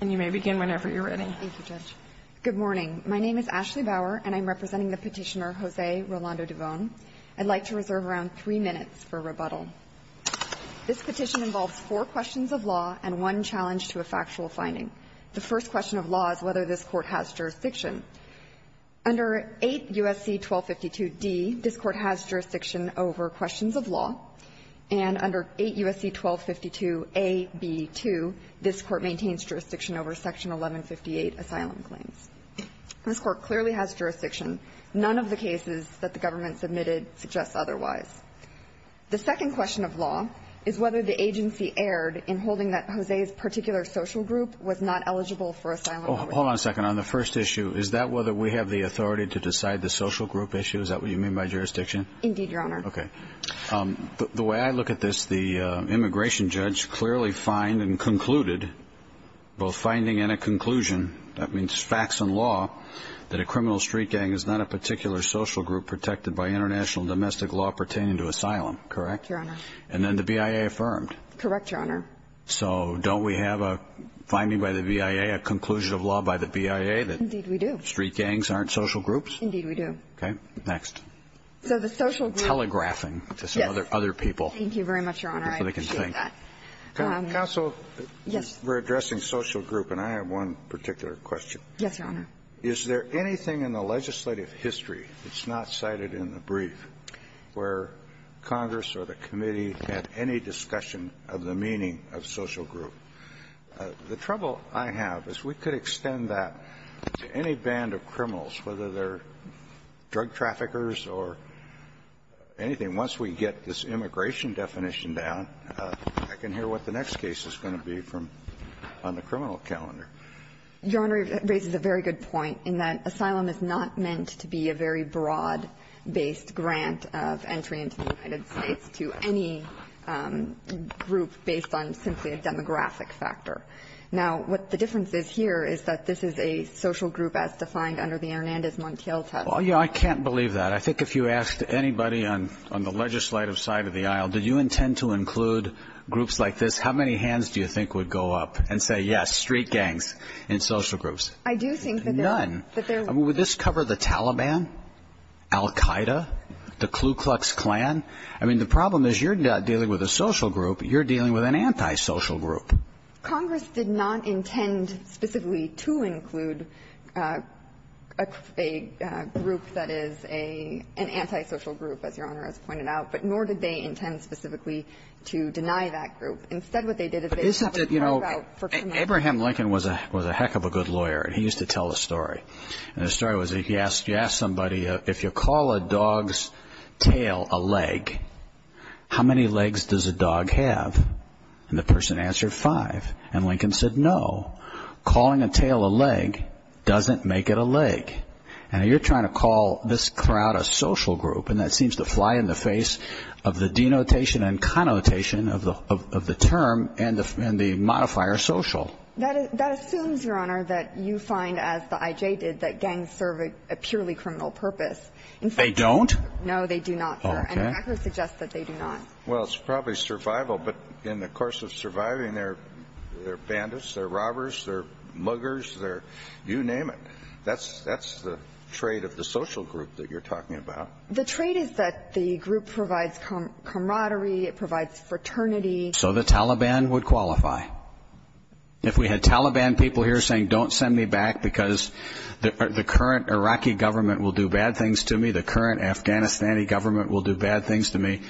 And you may begin whenever you're ready. Thank you, Judge. Good morning. My name is Ashley Bauer, and I'm representing the petitioner, Jose Rolando Duvon. I'd like to reserve around three minutes for rebuttal. This petition involves four questions of law and one challenge to a factual finding. The first question of law is whether this Court has jurisdiction. Under 8 U.S.C. 1252d, this Court has jurisdiction over questions of law. And under 8 U.S.C. 1252a,b,2, this Court maintains jurisdiction over Section 1158, Asylum Claims. This Court clearly has jurisdiction. None of the cases that the government submitted suggest otherwise. The second question of law is whether the agency erred in holding that Jose's particular social group was not eligible for asylum. Hold on a second. On the first issue, is that whether we have the authority to decide the social group issue? Is that what you mean by jurisdiction? Indeed, Your Honor. Okay. The way I look at this, the immigration judge clearly fined and concluded, both finding and a conclusion, that means facts and law, that a criminal street gang is not a particular social group protected by international domestic law pertaining to asylum, correct? Your Honor. And then the BIA affirmed. Correct, Your Honor. So don't we have a finding by the BIA, a conclusion of law by the BIA that street gangs aren't social groups? Indeed, we do. Okay. Next. So the social group Telegraphing. Yes. To some other people. Thank you very much, Your Honor. I appreciate that. Counsel. Yes. We're addressing social group, and I have one particular question. Yes, Your Honor. Is there anything in the legislative history that's not cited in the brief where Congress or the committee had any discussion of the meaning of social group? The trouble I have is we could extend that to any band of criminals, whether they're I can hear what the next case is going to be from the criminal calendar. Your Honor raises a very good point in that asylum is not meant to be a very broad-based grant of entry into the United States to any group based on simply a demographic factor. Now, what the difference is here is that this is a social group as defined under the Hernandez-Montiel test. Well, I can't believe that. I think if you asked anybody on the legislative side of the aisle, do you intend to include groups like this, how many hands do you think would go up and say, yes, street gangs in social groups? I do think that there are. None. I mean, would this cover the Taliban, Al-Qaeda, the Ku Klux Klan? I mean, the problem is you're not dealing with a social group. You're dealing with an antisocial group. Congress did not intend specifically to include a group that is an antisocial group, as Your Honor has pointed out, but nor did they intend specifically to deny that group. Instead, what they did is they put a curve out for criminals. You know, Abraham Lincoln was a heck of a good lawyer, and he used to tell a story. And the story was he asked somebody, if you call a dog's tail a leg, how many legs does a dog have? And the person answered five. And Lincoln said, no, calling a tail a leg doesn't make it a leg. And you're trying to call this crowd a social group, and that seems to fly in the face of the denotation and connotation of the term and the modifier social. That assumes, Your Honor, that you find, as the I.J. did, that gangs serve a purely criminal purpose. They don't? No, they do not, Your Honor. And the record suggests that they do not. Well, it's probably survival, but in the course of surviving, they're bandits, they're robbers, they're muggers, they're you name it. That's the trait of the social group that you're talking about. The trait is that the group provides camaraderie, it provides fraternity. So the Taliban would qualify. If we had Taliban people here saying, don't send me back because the current Iraqi government will do bad things to me, the current Afghanistani government will do bad things to me,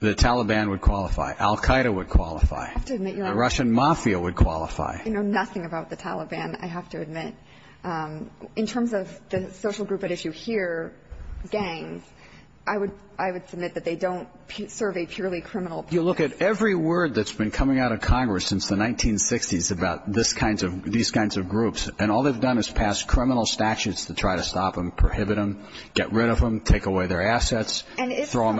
the Taliban would qualify. Al Qaeda would qualify. I have to admit, Your Honor. The Russian mafia would qualify. You know nothing about the Taliban, I have to admit. In terms of the social group at issue here, gangs, I would submit that they don't serve a purely criminal purpose. You look at every word that's been coming out of Congress since the 1960s about these kinds of groups, and all they've done is pass criminal statutes to try to stop them, prohibit them, get rid of them, take away their assets. And if someone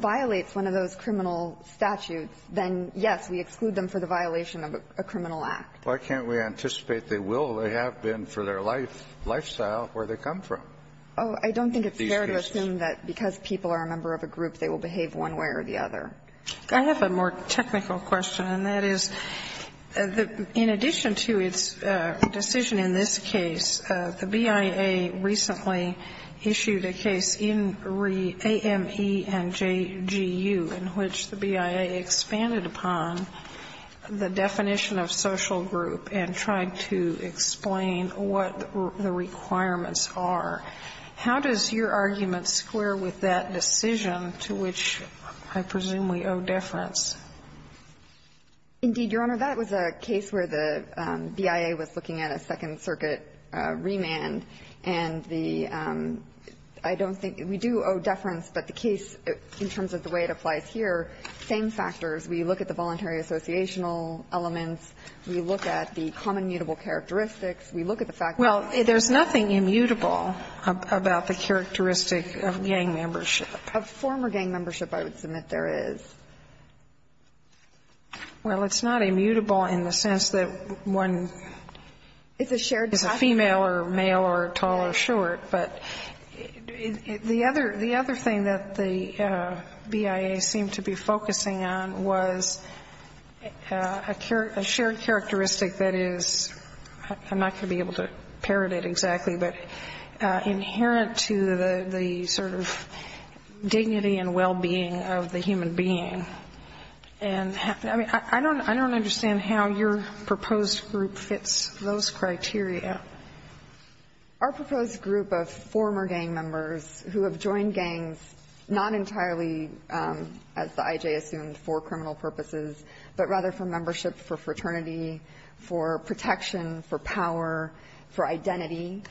violates one of those criminal statutes, then, yes, we exclude them for the violation of a criminal act. Why can't we anticipate they will? They have been for their life, lifestyle, where they come from. Oh, I don't think it's fair to assume that because people are a member of a group, they will behave one way or the other. I have a more technical question, and that is, in addition to its decision in this case, the BIA recently issued a case in AME and JGU in which the BIA expanded upon the definition of social group and tried to explain what the requirements are. How does your argument square with that decision to which I presume we owe deference? Indeed, Your Honor, that was a case where the BIA was looking at a Second Circuit remand, and the – I don't think – we do owe deference, but the case, in terms of the way it applies here, same factors. We look at the voluntary associational elements, we look at the common mutable characteristics, we look at the fact that there's nothing immutable about the characteristic of gang membership. Of former gang membership, I would submit there is. Well, it's not immutable in the sense that one is a shared property. Female or male or tall or short, but the other thing that the BIA seemed to be focusing on was a shared characteristic that is – I'm not going to be able to parrot it exactly – but inherent to the sort of dignity and well-being of the human being. And I mean, I don't understand how your proposed group fits those criteria. Our proposed group of former gang members who have joined gangs not entirely, as the I.J. assumed, for criminal purposes, but rather for membership, for fraternity, for protection, for power, for identity,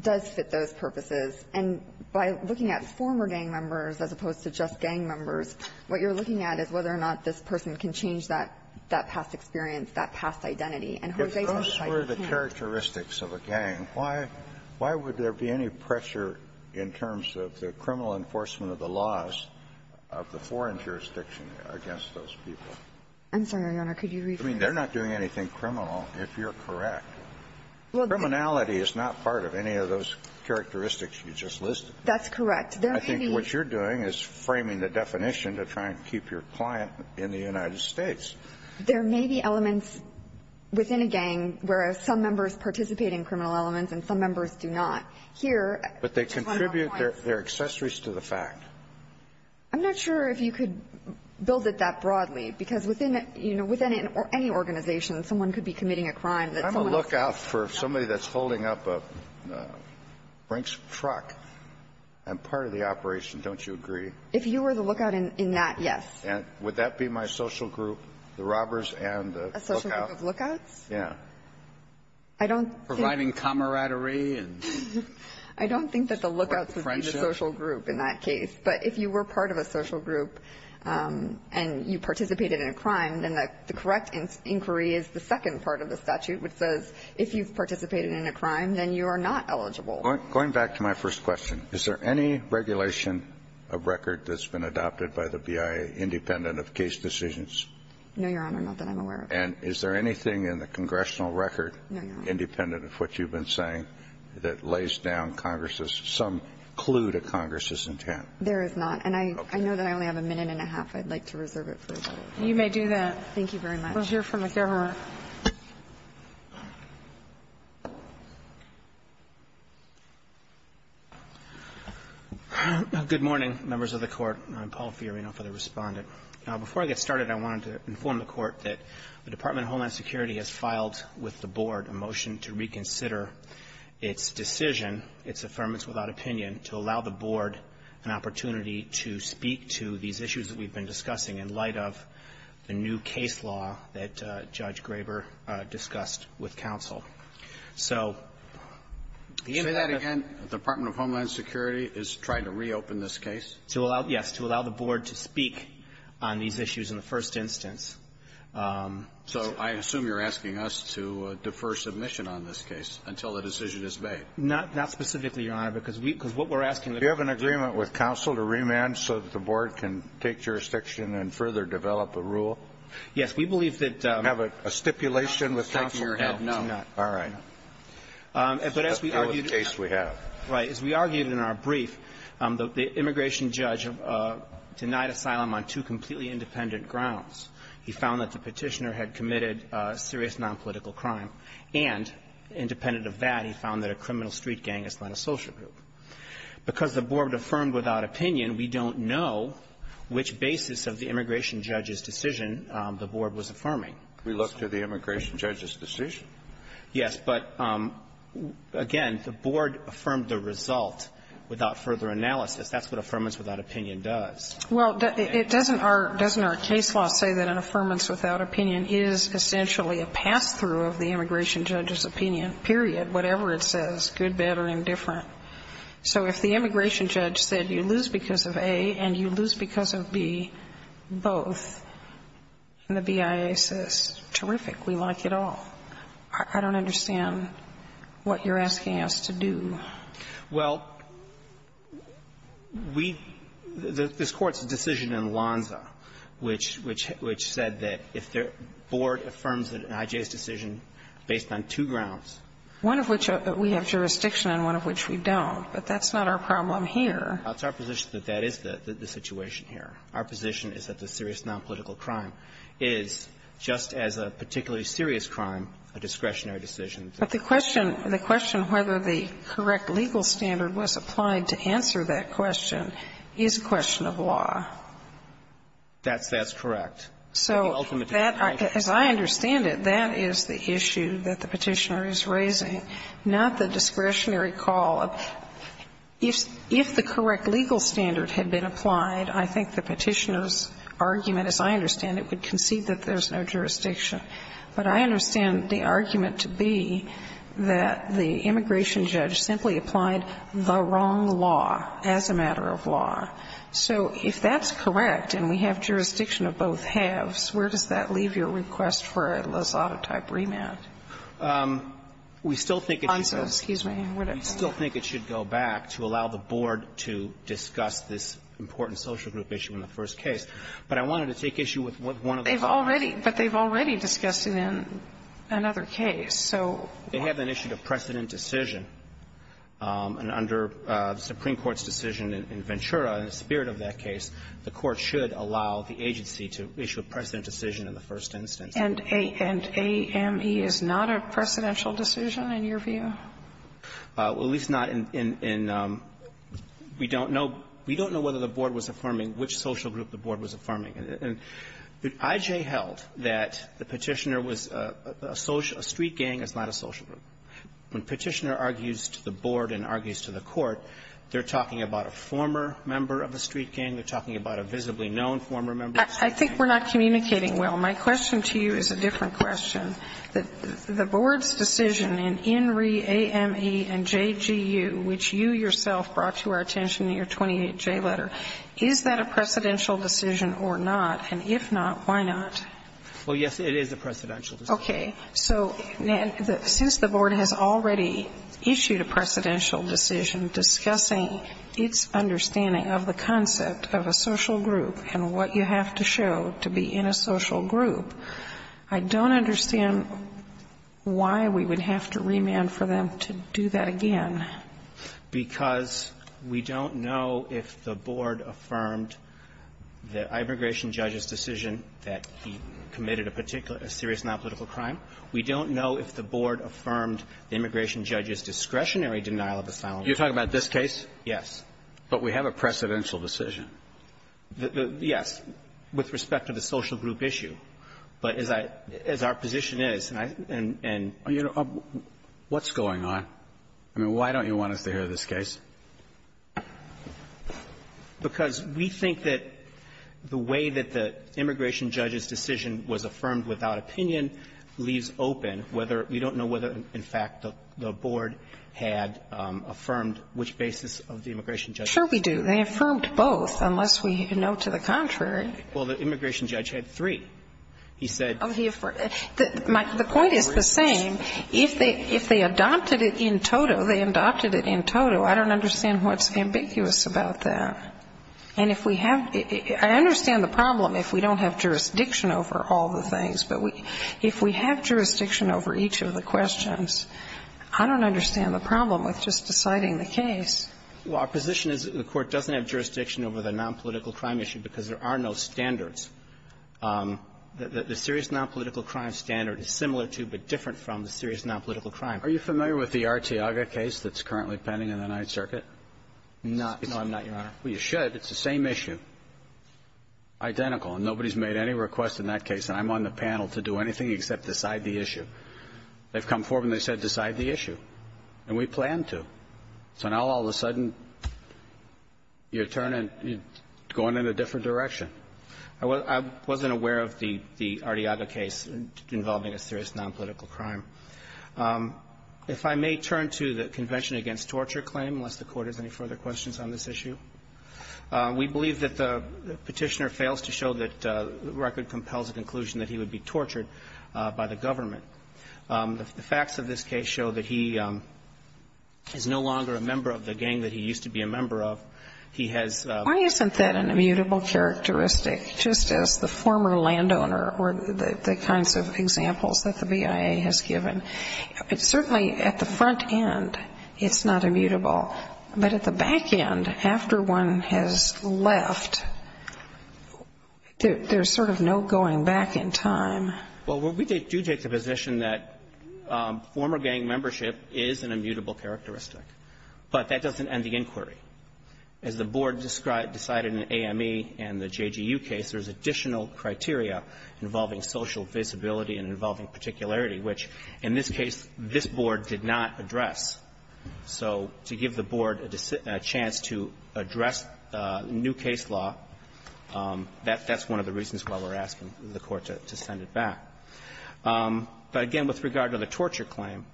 does fit those purposes. And by looking at former gang members as opposed to just gang members, what you're looking at is whether or not this person can change that past experience, that past identity. And who they identify as can't. If those were the characteristics of a gang, why would there be any pressure in terms of the criminal enforcement of the laws of the foreign jurisdiction against those people? I'm sorry, Your Honor. Could you rephrase? I mean, they're not doing anything criminal, if you're correct. Well, the – Criminality is not part of any of those characteristics you just listed. That's correct. There may be – I think what you're doing is framing the definition to try and keep your client in the United States. There may be elements within a gang where some members participate in criminal elements and some members do not. Here, the final point – But they contribute their accessories to the fact. I'm not sure if you could build it that broadly, because within, you know, within any organization, someone could be committing a crime that someone else does. I'm a lookout for somebody that's holding up a brink truck. I'm part of the operation. Don't you agree? If you were the lookout in that, yes. And would that be my social group, the robbers and the lookout? A social group of lookouts? Yeah. I don't think – Providing camaraderie and friendship? I don't think that the lookouts would be the social group in that case. But if you were part of a social group and you participated in a crime, then the correct inquiry is the second part of the statute, which says if you've participated in a crime, then you are not eligible. Going back to my first question, is there any regulation of record that's been adopted by the BIA independent of case decisions? No, Your Honor, not that I'm aware of. And is there anything in the congressional record independent of what you've been saying that lays down Congress's – some clue to Congress's intent? There is not. And I know that I only have a minute and a half. I'd like to reserve it for a vote. You may do that. Thank you very much. We'll hear from the Governor. Good morning, members of the Court. I'm Paul Fiorina for the Respondent. Before I get started, I wanted to inform the Court that the Department of Homeland Security has filed with the Board a motion to reconsider its decision, its affirmance without opinion, to allow the Board an opportunity to speak to these issues that we've been discussing in light of the new case law that Judge Graber discussed with counsel. So the idea that the – Can you say that again? The Department of Homeland Security is trying to reopen this case? To allow – yes, to allow the Board to speak on these issues in the first instance. So I assume you're asking us to defer submission on this case until the decision is made. Not specifically, Your Honor, because we – because what we're asking – Do you have an agreement with counsel to remand so that the Board can take jurisdiction and further develop a rule? Yes. We believe that – Do you have a stipulation with counsel? I'm shaking your head no. All right. But as we argued – That's the case we have. Right. As we argued in our brief, the immigration judge denied asylum on two completely independent grounds. He found that the petitioner had committed serious nonpolitical crime. And independent of that, he found that a criminal street gang is not a social group. Because the Board affirmed without opinion, we don't know which basis of the immigration judge's decision the Board was affirming. We looked at the immigration judge's decision? Yes. But, again, the Board affirmed the result without further analysis. That's what affirmance without opinion does. Well, it doesn't – doesn't our case law say that an affirmance without opinion is essentially a pass-through of the immigration judge's opinion, period, whatever it says, good, bad, or indifferent? So if the immigration judge said you lose because of A and you lose because of B both, and the BIA says, terrific, we like it all, I don't understand what you're asking us to do. Well, we – this Court's decision in Alonzo, which – which said that if the Board affirms that an IJ's decision based on two grounds – One of which we have jurisdiction and one of which we don't. But that's not our problem here. It's our position that that is the situation here. Our position is that the serious nonpolitical crime is, just as a particularly serious crime, a discretionary decision. But the question – the question whether the correct legal standard was applied to answer that question is a question of law. That's – that's correct. So that, as I understand it, that is the issue that the Petitioner is raising, not the discretionary call of – if the correct legal standard had been applied, I think the Petitioner's argument, as I understand it, would concede that there's no jurisdiction. But I understand the argument to be that the immigration judge simply applied the wrong law as a matter of law. So if that's correct and we have jurisdiction of both halves, where does that leave your request for a Lazzaro-type remand? We still think it should go back to allow the Board to discuss this important social group issue in the first case. But I wanted to take issue with one of the – They've already – but they've already discussed it in another case. So – They have an issue of precedent decision. And under the Supreme Court's decision in Ventura, in the spirit of that case, the Court should allow the agency to issue a precedent decision in the first instance. And – and AME is not a precedential decision in your view? Well, at least not in – in – we don't know – we don't know whether the Board was affirming which social group the Board was affirming. And I.J. held that the Petitioner was a – a street gang is not a social group. When Petitioner argues to the Board and argues to the Court, they're talking about a former member of a street gang, they're talking about a visibly known former member of a street gang. I think we're not communicating well. My question to you is a different question. The Board's decision in INRI, AME, and JGU, which you yourself brought to our attention in your 28J letter, is that a precedential decision or not? And if not, why not? Well, yes, it is a precedential decision. Okay. So since the Board has already issued a precedential decision discussing its understanding of the concept of a social group and what you have to show to be in a social group, I don't understand why we would have to remand for them to do that again. Because we don't know if the Board affirmed the immigration judge's decision that he committed a particular – a serious nonpolitical crime. We don't know if the Board affirmed the immigration judge's discretionary denial of asylum. You're talking about this case? Yes. But we have a precedential decision. Yes, with respect to the social group issue. But as I – as our position is, and I – and – You know, what's going on? I mean, why don't you want us to hear this case? Because we think that the way that the immigration judge's decision was affirmed without opinion leaves open whether – we don't know whether, in fact, the Board had affirmed which basis of the immigration judge's decision. Sure we do. They affirmed both, unless we know to the contrary. Well, the immigration judge had three. He said – Oh, he affirmed – the point is the same. If they – if they adopted it in toto, they adopted it in toto. I don't understand what's ambiguous about that. And if we have – I understand the problem if we don't have jurisdiction over all the things. But we – if we have jurisdiction over each of the questions, I don't understand the problem with just deciding the case. Well, our position is that the Court doesn't have jurisdiction over the nonpolitical crime issue because there are no standards. The serious nonpolitical crime standard is similar to but different from the serious nonpolitical crime. Are you familiar with the Arteaga case that's currently pending in the Ninth Circuit? Not – no, I'm not, Your Honor. Well, you should. It's the same issue. Identical. And nobody's made any request in that case. And I'm on the panel to do anything except decide the issue. They've come forward and they said decide the issue. And we plan to. So now all of a sudden, you're turning – you're going in a different direction. I wasn't aware of the Arteaga case involving a serious nonpolitical crime. If I may turn to the Convention Against Torture claim, unless the Court has any further questions on this issue, we believe that the Petitioner fails to show that the record compels a conclusion that he would be tortured by the government. The facts of this case show that he is no longer a member of the gang that he used to be a member of. He has – Why isn't that an immutable characteristic, just as the former landowner or the kinds of examples that the BIA has given? It's certainly – at the front end, it's not immutable. But at the back end, after one has left, there's sort of no going back in time. Well, we do take the position that former gang membership is an immutable characteristic. But that doesn't end the inquiry. As the Board decided in the AME and the JGU case, there's additional criteria involving social visibility and involving particularity, which, in this case, this Board did not address. So to give the Board a chance to address new case law, that's one of the reasons why we're asking the Court to send it back. But again, with regard to the torture claim,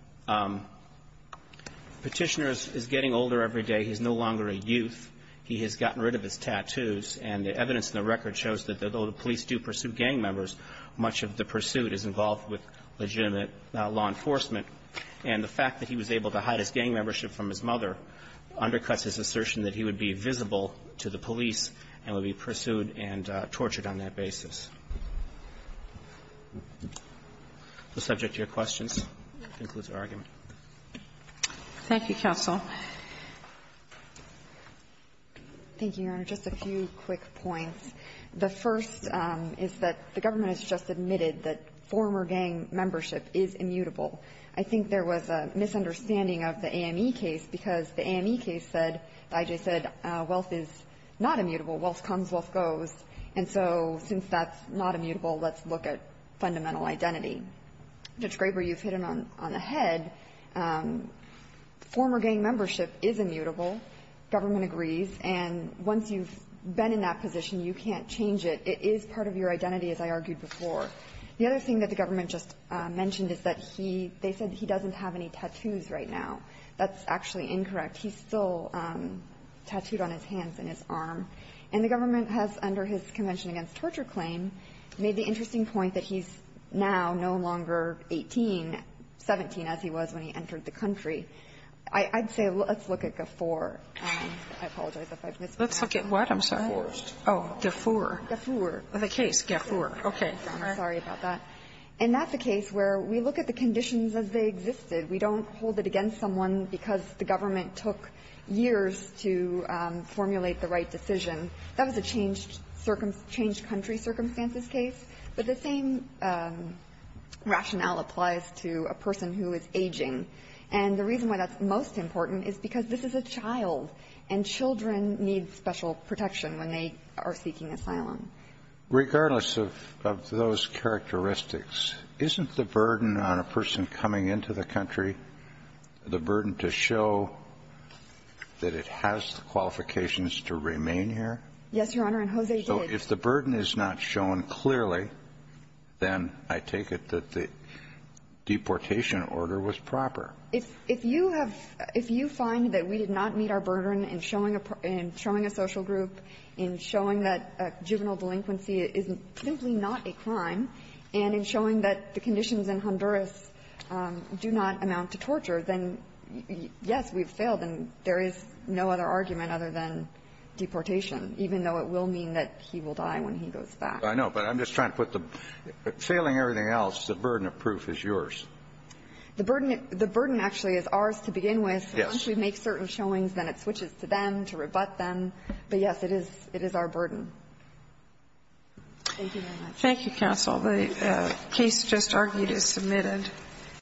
Petitioner is getting older every day. He's no longer a youth. He has gotten rid of his tattoos. And the evidence in the record shows that, though the police do pursue gang members, much of the pursuit is involved with legitimate law enforcement. And the fact that he was able to hide his gang membership from his mother undercuts his assertion that he would be visible to the police and would be pursued and tortured on that basis. The subject of your questions concludes our argument. Thank you, counsel. Thank you, Your Honor. Just a few quick points. The first is that the government has just admitted that former gang membership is immutable. I think there was a misunderstanding of the AME case because the AME case said, the IJ said, wealth is not immutable. Wealth comes, wealth goes. And so since that's not immutable, let's look at fundamental identity. Judge Graber, you've hit him on the head. Former gang membership is immutable, government agrees. And once you've been in that position, you can't change it. It is part of your identity, as I argued before. The other thing that the government just mentioned is that he, they said he doesn't have any tattoos right now. That's actually incorrect. He's still tattooed on his hands and his arm. And the government has, under his Convention Against Torture claim, made the interesting point that he's now no longer 18, 17, as he was when he entered the country. I'd say let's look at GFOR. I apologize if I've mispronounced it. I'm sorry. GFOR. GFOR. Of the case? GFOR. Okay. Sorry about that. And that's a case where we look at the conditions as they existed. We don't hold it against someone because the government took years to formulate the right decision. That was a changed circumstance, changed country circumstances case. But the same rationale applies to a person who is aging. And the reason why that's most important is because this is a child, and children need special protection when they are seeking asylum. Regardless of those characteristics, isn't the burden on a person coming into the country the burden to show that it has the qualifications to remain here? Yes, Your Honor, and Jose did. If the burden is not shown clearly, then I take it that the deportation order was proper. If you have – if you find that we did not meet our burden in showing a social group, in showing that juvenile delinquency is simply not a crime, and in showing that the conditions in Honduras do not amount to torture, then, yes, we've failed. And there is no other argument other than deportation, even though it will mean that he will die when he goes back. I know, but I'm just trying to put the – failing everything else, the burden of proof is yours. The burden – the burden actually is ours to begin with. Yes. Once we make certain showings, then it switches to them to rebut them. But, yes, it is – it is our burden. Thank you very much. Thank you, counsel. The case just argued is submitted.